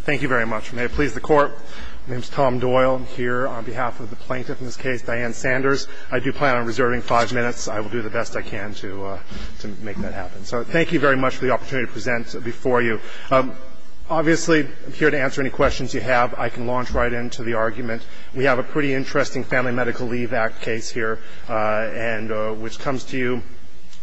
Thank you very much. May it please the Court, my name is Tom Doyle. I'm here on behalf of the plaintiff in this case, Diane Sanders. I do plan on reserving five minutes. I will do the best I can to make that happen. So thank you very much for the opportunity to present before you. Obviously, I'm here to answer any questions you have. I can launch right into the argument. We have a pretty interesting Family Medical Leave Act case here, which comes to you with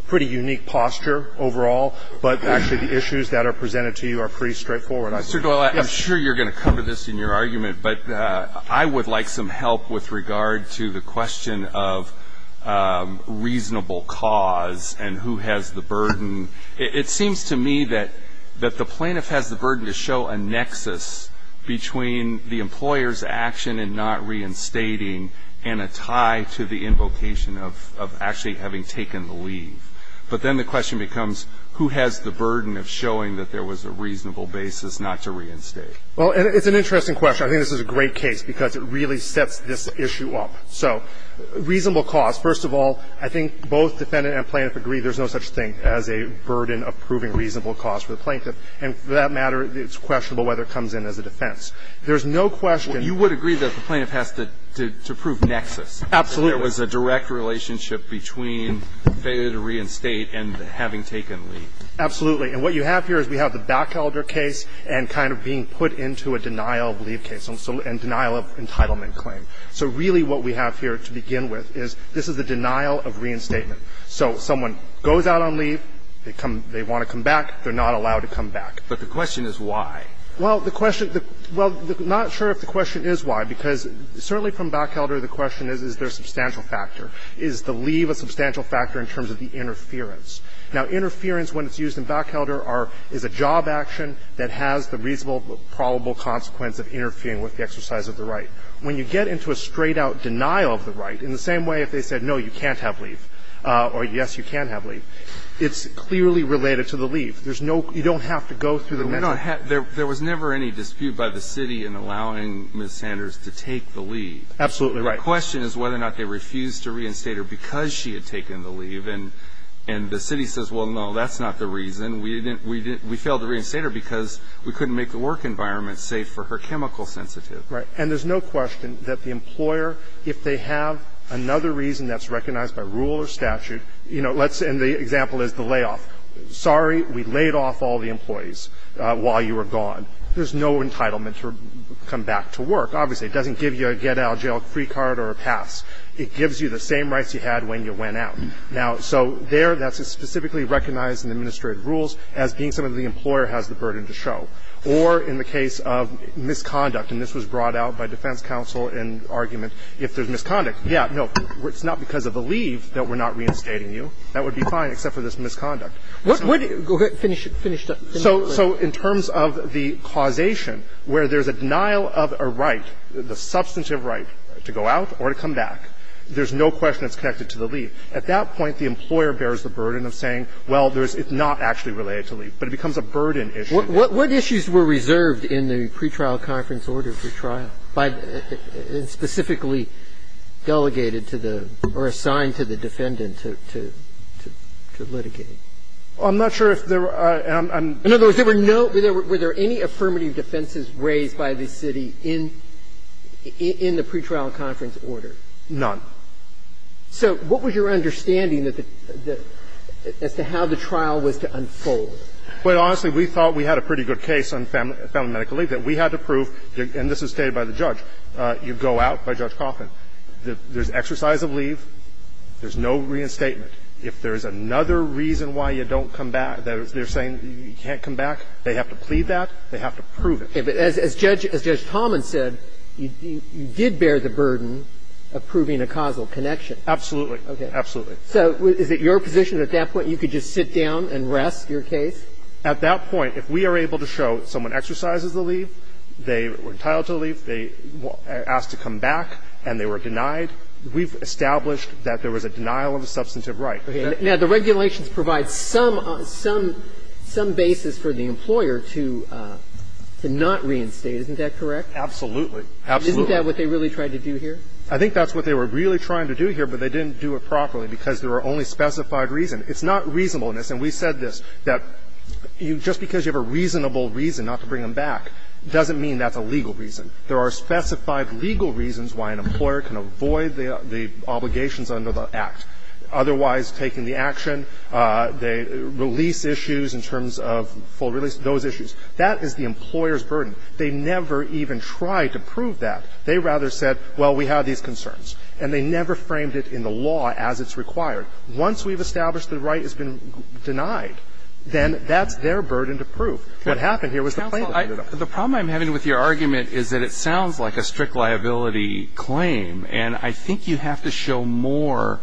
a pretty unique posture overall, but actually the issues that are presented to you are pretty straightforward. Mr. Doyle, I'm sure you're going to cover this in your argument, but I would like some help with regard to the question of reasonable cause and who has the burden. It seems to me that the plaintiff has the burden to show a nexus between the employer's action in not reinstating and a tie to the invocation of actually having taken the leave. But then the question becomes, who has the burden of showing that there was a reasonable basis not to reinstate? Well, it's an interesting question. I think this is a great case because it really sets this issue up. So reasonable cause, first of all, I think both defendant and plaintiff agree there's no such thing as a burden of proving reasonable cause for the plaintiff. And for that matter, it's questionable whether it comes in as a defense. There's no question Well, you would agree that the plaintiff has to prove nexus. Absolutely. There was a direct relationship between failure to reinstate and having taken leave. Absolutely. And what you have here is we have the Bachelder case and kind of being put into a denial of leave case and denial of entitlement claim. So really what we have here to begin with is this is a denial of reinstatement. So someone goes out on leave, they want to come back, they're not allowed to come back. But the question is why. Well, the question – well, I'm not sure if the question is why, because certainly from Bachelder, the question is, is there a substantial factor? Is the leave a substantial factor in terms of the interference? Now, interference, when it's used in Bachelder, are – is a job action that has the reasonable, probable consequence of interfering with the exercise of the right. When you get into a straight-out denial of the right, in the same way if they said, no, you can't have leave, or yes, you can have leave, it's clearly related to the leave. There's no – you don't have to go through the measure. But there was never any dispute by the city in allowing Ms. Sanders to take the leave. Absolutely right. The question is whether or not they refused to reinstate her because she had taken the leave. And the city says, well, no, that's not the reason. We failed to reinstate her because we couldn't make the work environment safe for her chemical sensitive. Right. And there's no question that the employer, if they have another reason that's recognized by rule or statute, you know, let's – and the example is the layoff. Sorry, we laid off all the employees while you were gone. There's no entitlement to come back to work, obviously. It doesn't give you a get-out-of-jail-free card or a pass. It gives you the same rights you had when you went out. Now, so there that's specifically recognized in the administrative rules as being something the employer has the burden to show. Or in the case of misconduct, and this was brought out by defense counsel in argument, if there's misconduct, yeah, no, it's not because of the leave that we're not reinstating you. That would be fine, except for this misconduct. So in terms of the causation, where there's a denial of a right, the substantive right to go out or to come back, there's no question it's connected to the leave. At that point, the employer bears the burden of saying, well, there's – it's not actually related to leave, but it becomes a burden issue. What issues were reserved in the pretrial conference order for trial by – specifically delegated to the – or assigned to the defendant to – to litigate? I'm not sure if there were – and I'm – In other words, there were no – were there any affirmative defenses raised by the city in – in the pretrial conference order? None. So what was your understanding that the – as to how the trial was to unfold? Well, honestly, we thought we had a pretty good case on family medical leave, that we had to prove – and this is stated by the judge. You go out by Judge Kaufman. There's exercise of leave. There's no reinstatement. If there's another reason why you don't come back, they're saying you can't come back, they have to plead that, they have to prove it. Okay. But as Judge – as Judge Talman said, you did bear the burden of proving a causal connection. Absolutely. Absolutely. So is it your position at that point you could just sit down and rest your case? At that point, if we are able to show someone exercises the leave, they were entitled to leave, they asked to come back, and they were denied, we've established that there was a denial of a substantive right. Now, the regulations provide some – some basis for the employer to not reinstate. Isn't that correct? Absolutely. Absolutely. Isn't that what they really tried to do here? I think that's what they were really trying to do here, but they didn't do it properly because there were only specified reasons. It's not reasonableness. And we said this, that you – just because you have a reasonable reason not to bring them back doesn't mean that's a legal reason. There are specified legal reasons why an employer can avoid the – the obligations under the Act. Otherwise, taking the action, they release issues in terms of full release, those issues. That is the employer's burden. They never even tried to prove that. They rather said, well, we have these concerns. And they never framed it in the law as it's required. Once we've established the right has been denied, then that's their burden to prove. What happened here was the plaintiff. Well, I – the problem I'm having with your argument is that it sounds like a strict liability claim. And I think you have to show more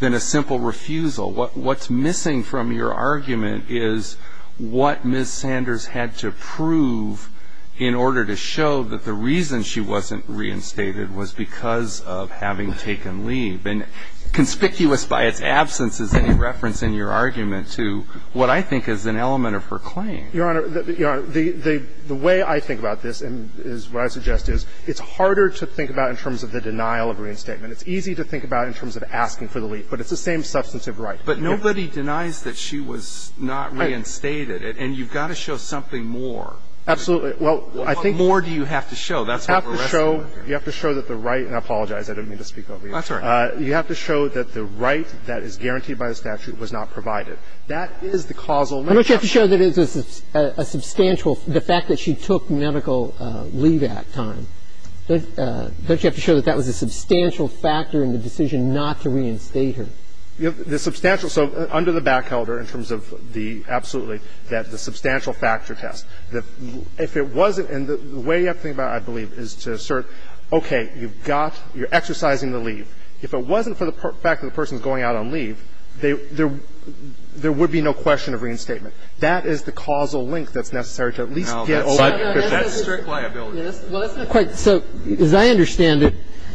than a simple refusal. What – what's missing from your argument is what Ms. Sanders had to prove in order to show that the reason she wasn't reinstated was because of having taken leave. And conspicuous by its absence is any reference in your argument to what I think is an element of her claim. Your Honor, the – the way I think about this and is what I suggest is it's harder to think about in terms of the denial of reinstatement. It's easy to think about in terms of asking for the leave, but it's the same substantive right. But nobody denies that she was not reinstated. And you've got to show something more. Absolutely. Well, I think you have to show that's what we're asking. You have to show that the right – and I apologize. I didn't mean to speak over you. That's all right. You have to show that the right that is guaranteed by the statute was not provided. That is the causal relationship. And don't you have to show that it's a substantial – the fact that she took medical leave at that time. Don't you have to show that that was a substantial factor in the decision not to reinstate her? The substantial – so under the backhelder in terms of the – absolutely, that the substantial factor test, if it wasn't – and the way you have to think about it, I believe, is to assert, okay, you've got – you're exercising the leave. If it wasn't for the fact that the person is going out on leave, there would be no question of reinstatement. That is the causal link that's necessary to at least get – No, that's strict liability. Well, that's not quite – so as I understand it,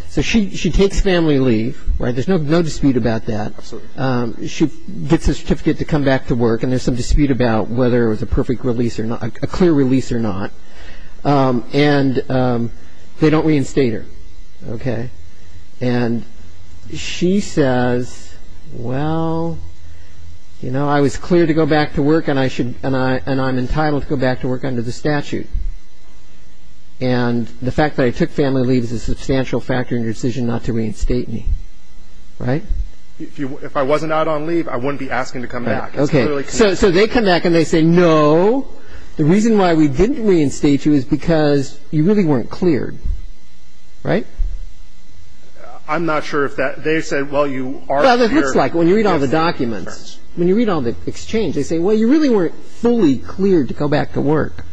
so she takes family leave, right? There's no dispute about that. Absolutely. She gets a certificate to come back to work, and there's some dispute about whether it was a perfect release or not – a clear release or not. And they don't reinstate her, okay? And she says, well, you know, I was cleared to go back to work, and I should – and I'm entitled to go back to work under the statute. And the fact that I took family leave is a substantial factor in your decision not to reinstate me, right? If I wasn't out on leave, I wouldn't be asking to come back. It's clearly clear. So they come back, and they say, no, the reason why we didn't reinstate you is because you really weren't cleared, right? I'm not sure if that – they said, well, you are cleared – Well, it looks like when you read all the documents, when you read all the exchange, they say, well, you really weren't fully cleared to go back to work.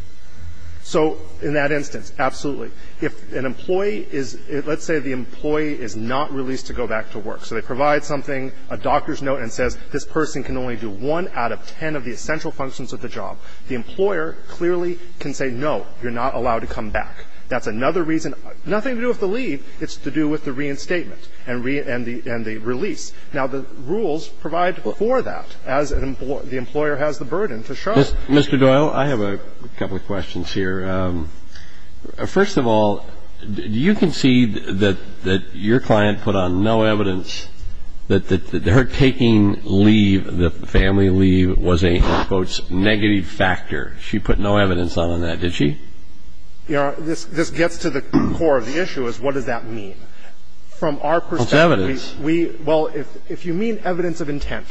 So in that instance, absolutely. If an employee is – let's say the employee is not released to go back to work. So they provide something, a doctor's note, and it says this person can only do one out of ten of the essential functions of the job. The employer clearly can say, no, you're not allowed to come back. That's another reason. Nothing to do with the leave. It's to do with the reinstatement and the release. Now, the rules provide for that, as the employer has the burden to show. Mr. Doyle, I have a couple of questions here. First of all, do you concede that your client put on no evidence that her taking leave, the family leave, was a, in quotes, negative factor? She put no evidence on that, did she? Yeah. This gets to the core of the issue, is what does that mean? From our perspective – What's evidence? Well, if you mean evidence of intent,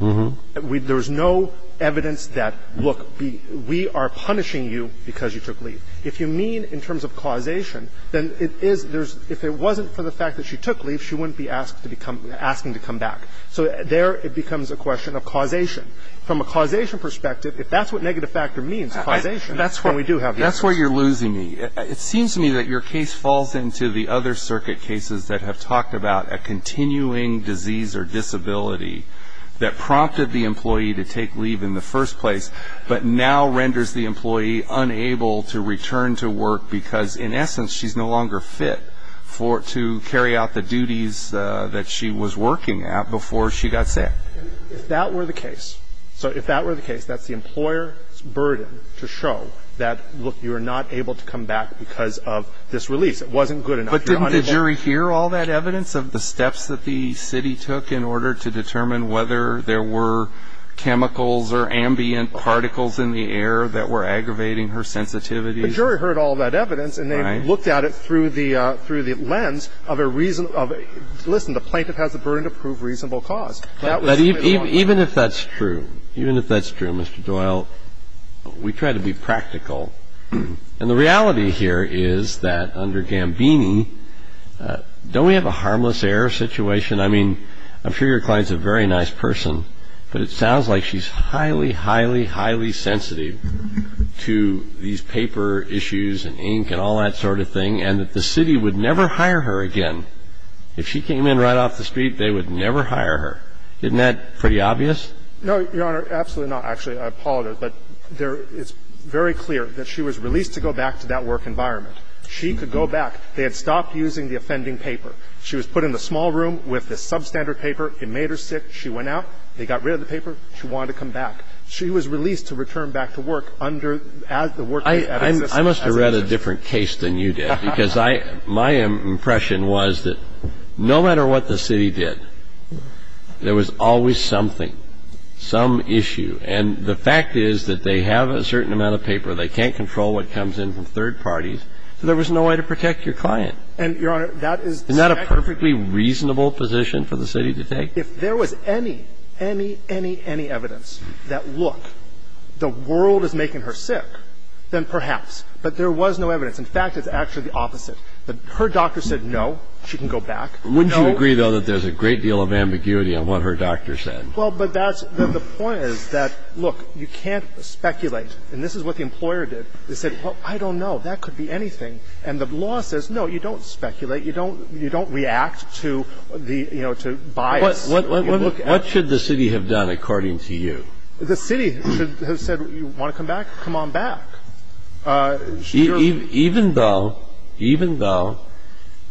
there's no evidence that, look, we are punishing you because you took leave. If you mean in terms of causation, then it is – if it wasn't for the fact that she took leave, she wouldn't be asking to come back. So there it becomes a question of causation. From a causation perspective, if that's what negative factor means, causation, then we do have the evidence. That's where you're losing me. It seems to me that your case falls into the other circuit cases that have talked about a continuing disease or disability that prompted the employee to take leave in the first place, but now renders the employee unable to return to work because, in essence, she's no longer fit to carry out the duties that she was working at before she got sick. If that were the case – so if that were the case, that's the employer's burden to show that, look, you are not able to come back because of this release. It wasn't good enough. But didn't the jury hear all that evidence of the steps that the city took in order to determine whether there were chemicals or ambient particles in the air that were aggravating her sensitivity? The jury heard all that evidence, and they looked at it through the lens of a reason of – listen, the plaintiff has the burden to prove reasonable cause. That was the only – But even if that's true, even if that's true, Mr. Doyle, we try to be practical. And the reality here is that under Gambini, don't we have a harmless error situation? I mean, I'm sure your client's a very nice person, but it sounds like she's highly, highly, highly sensitive to these paper issues and ink and all that sort of thing, and that the city would never hire her again. If she came in right off the street, they would never hire her. Isn't that pretty obvious? No, Your Honor, absolutely not. Actually, I appalled her, but there – it's very clear that she was released to go back to that work environment. She could go back. They had stopped using the offending paper. She was put in the small room with the substandard paper. It made her sick. She went out. They got rid of the paper. She wanted to come back. She was released to return back to work under – as the workplace ethics system. I must have read a different case than you did, because I – my impression was that no matter what the city did, there was always something, some issue. And the fact is that they have a certain amount of paper. They can't control what comes in from third parties, so there was no way to protect your client. And, Your Honor, that is the second – Isn't that a perfectly reasonable position for the city to take? If there was any, any, any, any evidence that, look, the world is making her sick, then perhaps. But there was no evidence. In fact, it's actually the opposite. Her doctor said, no, she can go back. Wouldn't you agree, though, that there's a great deal of ambiguity on what her doctor said? Well, but that's – the point is that, look, you can't speculate. And this is what the employer did. They said, well, I don't know. That could be anything. And the law says, no, you don't speculate. You don't – you don't react to the – you know, to bias. What should the city have done, according to you? The city should have said, you want to come back? Come on back. Even though – even though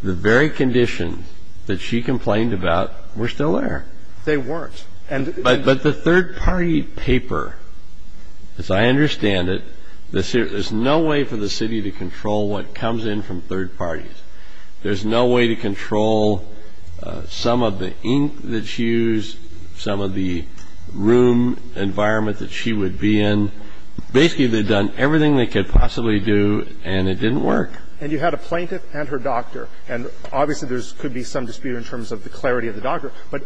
the very conditions that she complained about were still there. They weren't. But the third-party paper, as I understand it, there's no way for the city to control what comes in from third parties. There's no way to control some of the ink that she used, some of the room environment that she would be in. Basically, they'd done everything they could possibly do, and it didn't work. And you had a plaintiff and her doctor. And obviously, there could be some dispute in terms of the clarity of the doctor. But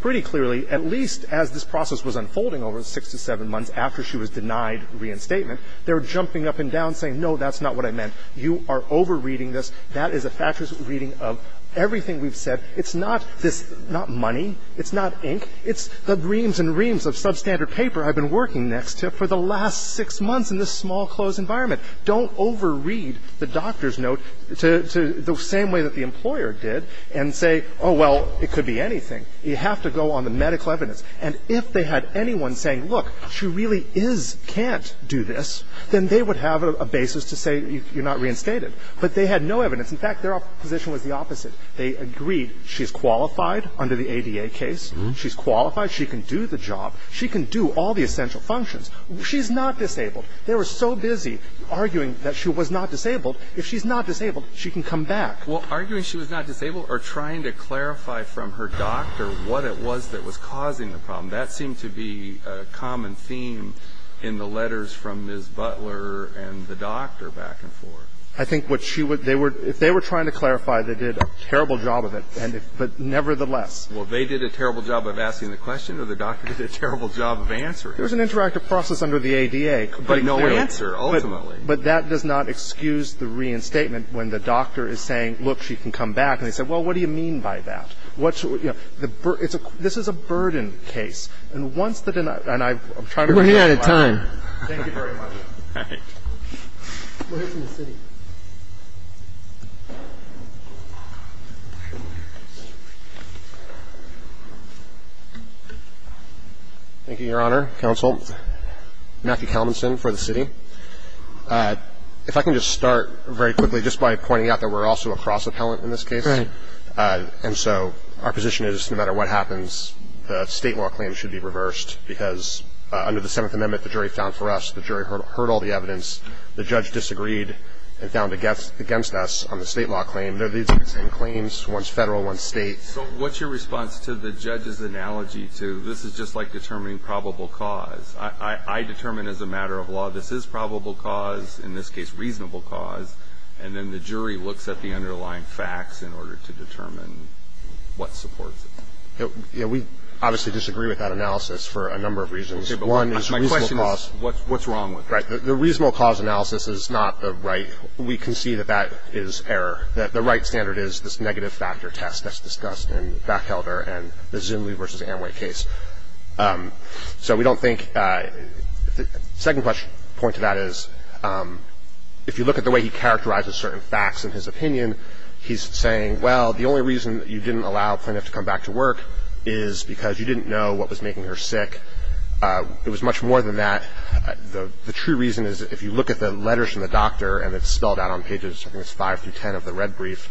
pretty clearly, at least as this process was unfolding over six to seven months after she was denied reinstatement, they were jumping up and down, saying, no, that's not what I meant. You are over-reading this. That is a factuous reading of everything we've said. It's not this – not money. It's not ink. It's the reams and reams of substandard paper I've been working next to for the last six months in this small, closed environment. Don't over-read the doctor's note to – the same way that the employer did and say, oh, well, it could be anything. You have to go on the medical evidence. And if they had anyone saying, look, she really is – can't do this, then they would have a basis to say you're not reinstated. But they had no evidence. In fact, their position was the opposite. They agreed she's qualified under the ADA case. She's qualified. She can do the job. She can do all the essential functions. She's not disabled. They were so busy arguing that she was not disabled. If she's not disabled, she can come back. Well, arguing she was not disabled or trying to clarify from her doctor what it was that was causing the problem, that seemed to be a common theme in the letters from Ms. Butler and the doctor back and forth. I think what she would – they were – if they were trying to clarify, they did a terrible job of it. And if – but nevertheless. Well, they did a terrible job of asking the question or the doctor did a terrible job of answering. There was an interactive process under the ADA. But no answer, ultimately. But that does not excuse the reinstatement when the doctor is saying, look, she can come back. And they say, well, what do you mean by that? What's – you know, the – it's a – this is a burden case. And once the – and I'm trying to read the letter. We're running out of time. Thank you very much. All right. Let's hear from the city. Thank you, Your Honor, Counsel. Matthew Kalmanson for the city. If I can just start very quickly just by pointing out that we're also a cross-appellant in this case. Right. And so our position is no matter what happens, the state law claim should be reversed because under the Seventh Amendment, the jury found for us, the jury heard all the evidence. The judge disagreed and found against us on the state law claim. They're the same claims, one's Federal, one's State. So what's your response to the judge's analogy to this is just like determining probable cause? I determine as a matter of law this is probable cause, in this case reasonable cause, and then the jury looks at the underlying facts in order to determine what supports it. We obviously disagree with that analysis for a number of reasons. One is reasonable cause. My question is, what's wrong with it? Right. The reasonable cause analysis is not the right. We can see that that is error, that the right standard is this negative factor test that's discussed in Backhelder and the Zunle versus Amway case. So we don't think the second point to that is if you look at the way he characterizes certain facts in his opinion, he's saying, well, the only reason that you didn't allow Plinth to come back to work is because you didn't know what was making her sick. It was much more than that. The true reason is if you look at the letters from the doctor and it's spelled out on pages, I think it's 5 through 10 of the red brief,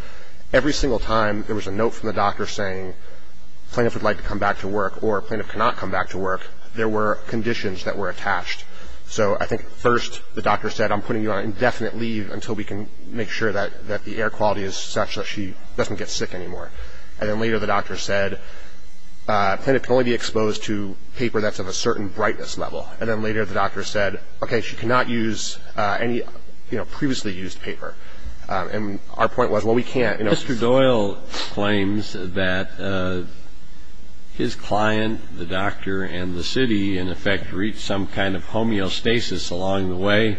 every single time there was a note from the doctor saying Plinth would like to come back to work or Plinth cannot come back to work, there were conditions that were attached. So I think first the doctor said I'm putting you on indefinite leave until we can make sure that the air quality is such that she doesn't get sick anymore. And then later the doctor said Plinth can only be exposed to paper that's of a certain brightness level. And then later the doctor said, okay, she cannot use any previously used paper. And our point was, well, we can't. Mr. Doyle claims that his client, the doctor, and the city in effect reached some kind of homeostasis along the way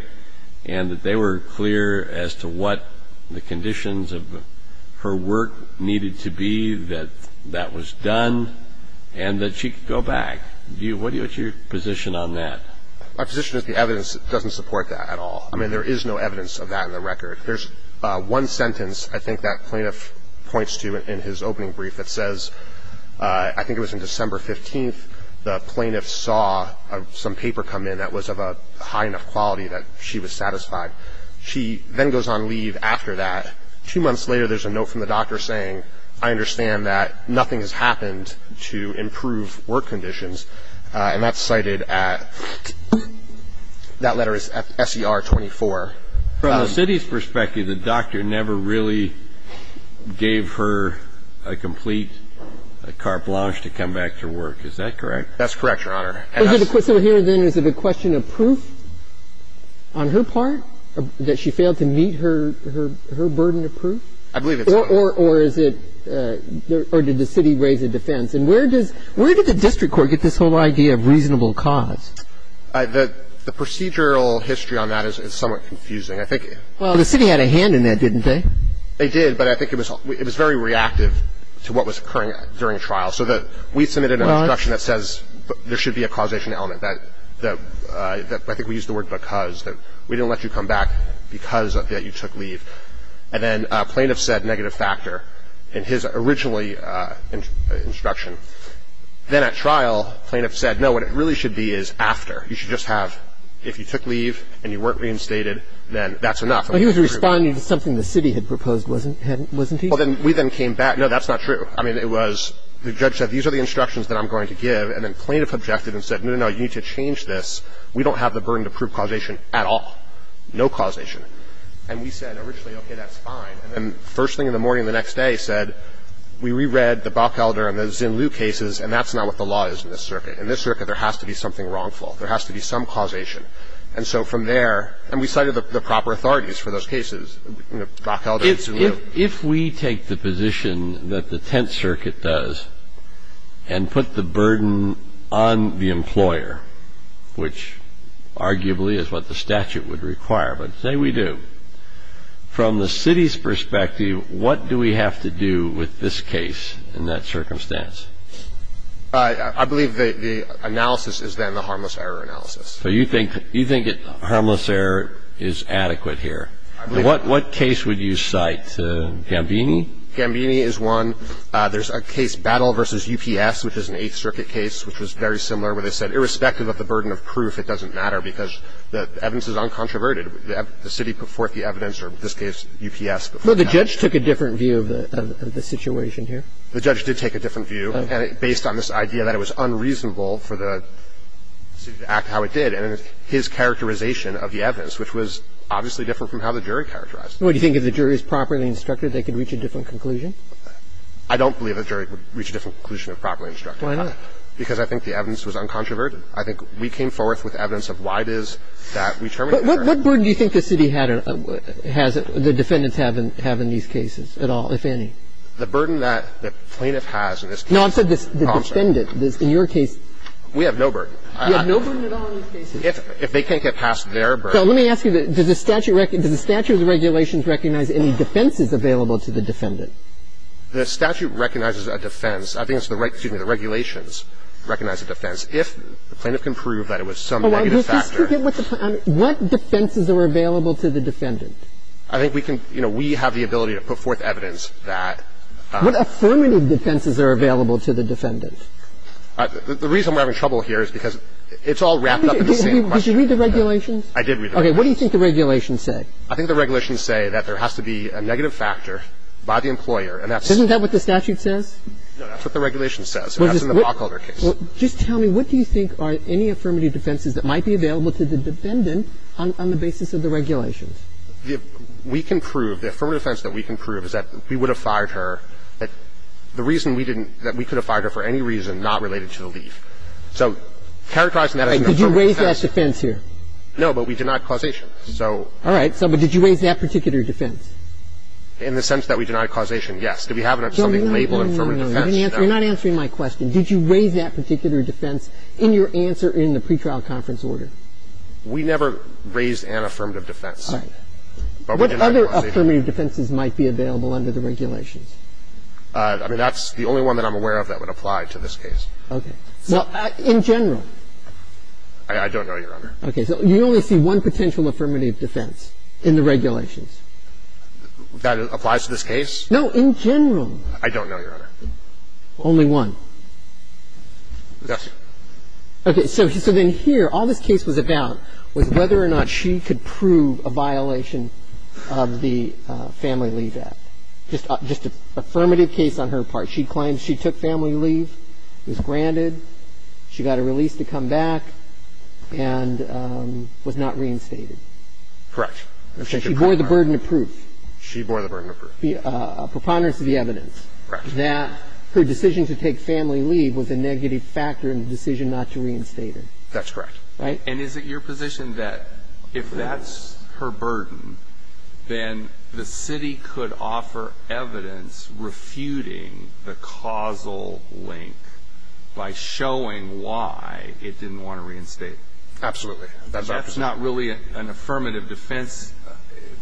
and that they were clear as to what the conditions of her work needed to be that that was done and that she could go back. What is your position on that? My position is the evidence doesn't support that at all. I mean, there is no evidence of that in the record. There's one sentence I think that Plinth points to in his opening brief that says, I think it was in December 15th, the Plinth saw some paper come in that was of a high enough quality that she was satisfied. She then goes on leave after that. Two months later, there's a note from the doctor saying, I understand that nothing has happened to improve work conditions. And that's cited at, that letter is at SER 24. From the city's perspective, the doctor never really gave her a complete carte blanche to come back to work. Is that correct? That's correct, Your Honor. So here then is it a question of proof on her part that she failed to meet her burden of proof? I believe it's correct. Or is it, or did the city raise a defense? And where does, where did the district court get this whole idea of reasonable cause? The procedural history on that is somewhat confusing. I think. Well, the city had a hand in that, didn't they? They did, but I think it was, it was very reactive to what was occurring during a trial. So that we submitted an instruction that says there should be a causation element that, that I think we used the word because, that we didn't let you come back because of that you took leave. And then plaintiff said negative factor in his originally instruction. Then at trial, plaintiff said, no, what it really should be is after. You should just have, if you took leave and you weren't reinstated, then that's enough. But he was responding to something the city had proposed, wasn't he? Well, then we then came back. No, that's not true. I mean, it was, the judge said, these are the instructions that I'm going to give. And then plaintiff objected and said, no, no, no, you need to change this. We don't have the burden to prove causation at all, no causation. And we said originally, okay, that's fine. And then first thing in the morning the next day said, we re-read the Bockelder and the Zin Liu cases, and that's not what the law is in this circuit. In this circuit, there has to be something wrongful. There has to be some causation. And so from there, and we cited the proper authorities for those cases, you know, Bockelder and Zin Liu. If we take the position that the Tenth Circuit does and put the burden on the employer, which arguably is what the statute would require, but say we do. From the city's perspective, what do we have to do with this case in that circumstance? I believe the analysis is then the harmless error analysis. So you think harmless error is adequate here? I believe so. What case would you cite? Gambini? Gambini is one. There's a case, Battle v. UPS, which is an Eighth Circuit case, which was very similar where they said, irrespective of the burden of proof, it doesn't matter because the evidence is uncontroverted. The city put forth the evidence, or in this case, UPS, put forth the evidence. But the judge took a different view of the situation here? The judge did take a different view based on this idea that it was unreasonable for the city to act how it did. And his characterization of the evidence, which was obviously different from how the jury characterized it. Well, do you think if the jury is properly instructed, they could reach a different conclusion? I don't believe the jury would reach a different conclusion if properly instructed. Why not? Because I think the evidence was uncontroverted. I think we came forth with evidence of why it is that we terminate the error. What burden do you think the city had or has the defendants have in these cases at all, if any? The burden that the plaintiff has in this case is constant. No, I'm saying the defendant. In your case. We have no burden. You have no burden at all in these cases? If they can't get past their burden. So let me ask you, does the statute of regulations recognize any defenses available to the defendant? The statute recognizes a defense. I think it's the right, excuse me, the regulations recognize a defense. If the plaintiff can prove that it was some negative factor. What defenses are available to the defendant? I think we can, you know, we have the ability to put forth evidence that. What affirmative defenses are available to the defendant? The reason we're having trouble here is because it's all wrapped up in the same question. Did you read the regulations? I did read the regulations. Okay. What do you think the regulations say? I think the regulations say that there has to be a negative factor by the employer and that's. Isn't that what the statute says? No, that's what the regulation says. That's in the Blockholder case. Well, just tell me, what do you think are any affirmative defenses that might be available to the defendant on the basis of the regulations? We can prove, the affirmative defense that we can prove is that we would have fired her, that the reason we didn't, that we could have fired her for any reason not related to the leave. So characterizing that as an affirmative defense. Did you raise that defense here? No, but we denied causation. So. All right. But did you raise that particular defense? In the sense that we denied causation, yes. No, no, no, no, you're not answering my question. Did you raise that particular defense in your answer in the pretrial conference order? We never raised an affirmative defense. All right. But what other affirmative defenses might be available under the regulations? I mean, that's the only one that I'm aware of that would apply to this case. Okay. Well, in general. I don't know, Your Honor. Okay. So you only see one potential affirmative defense in the regulations. That applies to this case? No, in general. I don't know, Your Honor. Only one. Yes. Okay. So then here, all this case was about was whether or not she could prove a violation of the Family Leave Act. Just an affirmative case on her part. She took family leave, was granted, she got a release to come back, and was not reinstated. Correct. She bore the burden of proof. She bore the burden of proof. The preponderance of the evidence. Correct. That her decision to take family leave was a negative factor in the decision not to reinstate her. That's correct. Right? And is it your position that if that's her burden, then the city could offer evidence refuting the causal link by showing why it didn't want to reinstate her? Absolutely. That's not really an affirmative defense.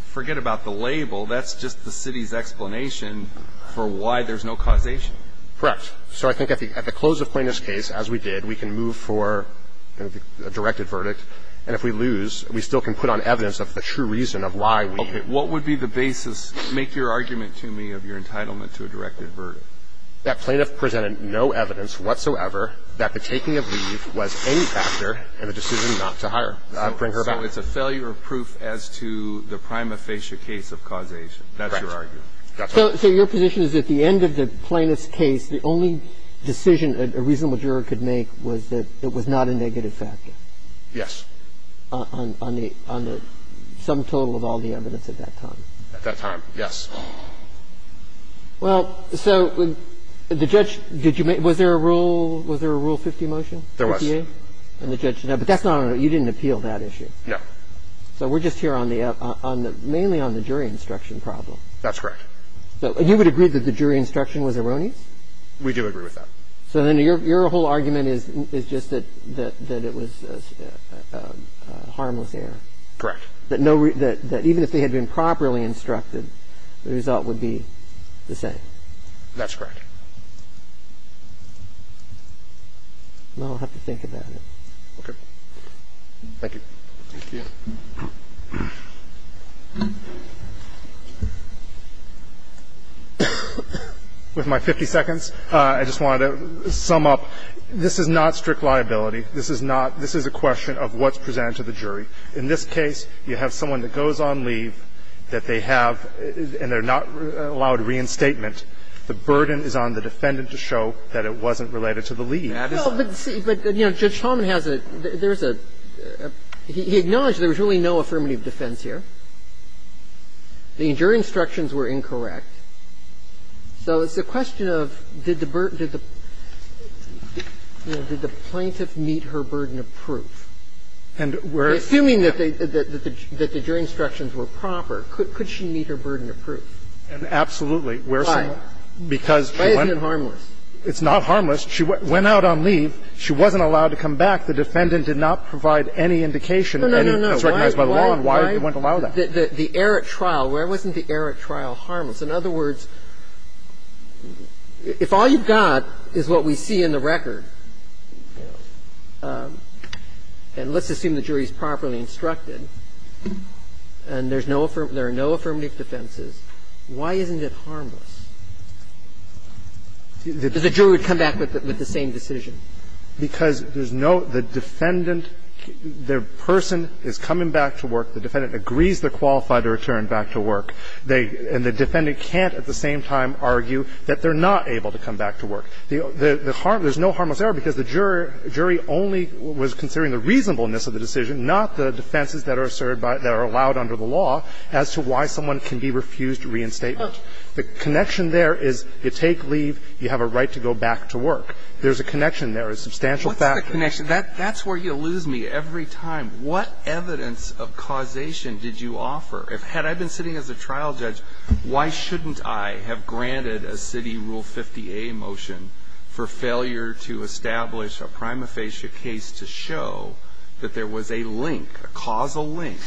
Forget about the label. That's just the city's explanation for why there's no causation. Correct. So I think at the close of Plaintiff's case, as we did, we can move for a directed verdict. And if we lose, we still can put on evidence of the true reason of why we leave. Okay. What would be the basis, make your argument to me, of your entitlement to a directed verdict? That Plaintiff presented no evidence whatsoever that the taking of leave was any factor in the decision not to hire, bring her back. It's a failure of proof as to the prima facie case of causation. That's your argument. Correct. So your position is at the end of the Plaintiff's case, the only decision a reasonable juror could make was that it was not a negative factor? Yes. On the sum total of all the evidence at that time? At that time, yes. Well, so the judge did you make – was there a Rule 50 motion? There was. 58? And the judge said no. But that's not – you didn't appeal that issue. No. So we're just here on the – mainly on the jury instruction problem. That's correct. You would agree that the jury instruction was erroneous? We do agree with that. So then your whole argument is just that it was a harmless error? Correct. That no – that even if they had been properly instructed, the result would be the same? That's correct. Well, I'll have to think about it. Okay. Thank you. With my 50 seconds, I just wanted to sum up. This is not strict liability. This is not – this is a question of what's presented to the jury. In this case, you have someone that goes on leave that they have – and they're not allowed reinstatement. The burden is on the defendant to show that it wasn't related to the leave. And that is a – Well, but see – but, you know, Judge Talman has a – there's a – he acknowledged there was really no affirmative defense here. The jury instructions were incorrect. So it's a question of did the – you know, did the plaintiff meet her burden of proof? And we're – Assuming that the jury instructions were proper, could she meet her burden of proof? And absolutely. Why? Because – Why isn't it harmless? It's not harmless. She went out on leave. She wasn't allowed to come back. The defendant did not provide any indication. Any – No, no, no. Why? It's recognized by the law. And why would they want to allow that? The error at trial, where wasn't the error at trial harmless? In other words, if all you've got is what we see in the record, and let's assume the jury is properly instructed, and there's no – there are no affirmative defenses, why isn't it harmless? The jury would come back with the same decision. Because there's no – the defendant, the person is coming back to work. The defendant agrees they're qualified to return back to work. They – and the defendant can't at the same time argue that they're not able to come back to work. The harm – there's no harmless error because the jury only was considering the reasonableness of the decision, not the defenses that are asserted by – that are allowed under the law as to why someone can be refused reinstatement. The connection there is you take leave, you have a right to go back to work. There's a connection there, a substantial factor. What's the connection? That's where you lose me every time. What evidence of causation did you offer? Had I been sitting as a trial judge, why shouldn't I have granted a city Rule 50a motion for failure to establish a prima facie case to show that there was a link, a causal link,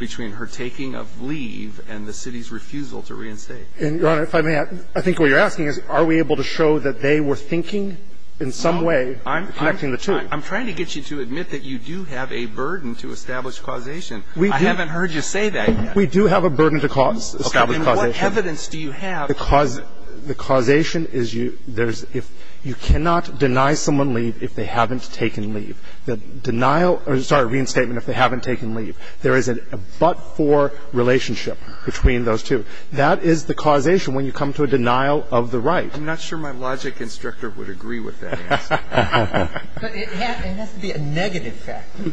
between her taking of leave and the city's refusal to reinstate? And, Your Honor, if I may, I think what you're asking is, are we able to show that they were thinking in some way connecting the two? I'm trying to get you to admit that you do have a burden to establish causation. We do. I haven't heard you say that yet. We do have a burden to cause. Establish causation. Then what evidence do you have? The causation is you – there's – if you cannot deny someone leave if they haven't taken leave. The denial – or, sorry, reinstatement if they haven't taken leave. There is a but-for relationship between those two. That is the causation when you come to a denial of the right. I'm not sure my logic instructor would agree with that answer. But it has to be a negative factor.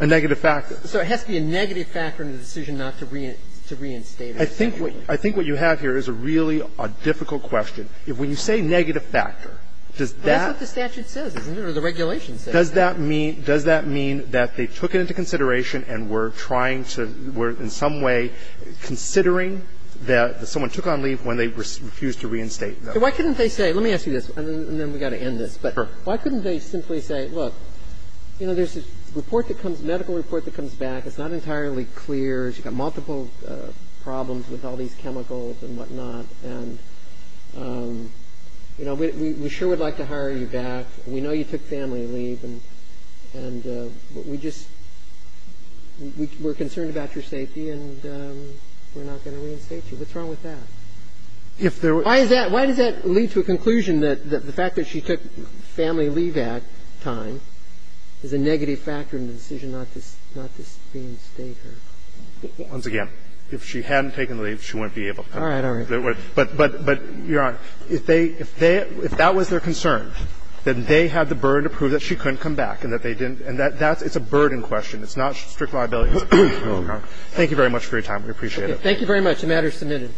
A negative factor. So it has to be a negative factor in the decision not to reinstate it. I think what you have here is a really difficult question. When you say negative factor, does that – That's what the statute says, isn't it, or the regulation says that? Does that mean that they took it into consideration and were trying to – were in some way considering that someone took on leave when they refused to reinstate? Why couldn't they say – let me ask you this, and then we've got to end this. But why couldn't they simply say, look, you know, there's a report that comes – medical report that comes back. It's not entirely clear. You've got multiple problems with all these chemicals and whatnot. And, you know, we sure would like to hire you back. We know you took family leave. And we just – we're concerned about your safety, and we're not going to reinstate you. What's wrong with that? If there were – Why is that – why does that lead to a conclusion that the fact that she took family leave at time is a negative factor in the decision not to reinstate her? Once again, if she hadn't taken leave, she wouldn't be able to. All right. All right. But, Your Honor, if they – if that was their concern, that they had the burden to prove that she couldn't come back and that they didn't – and that's – it's a burden question. It's not strict liability. Thank you very much for your time. We appreciate it. Thank you very much. The matter is submitted.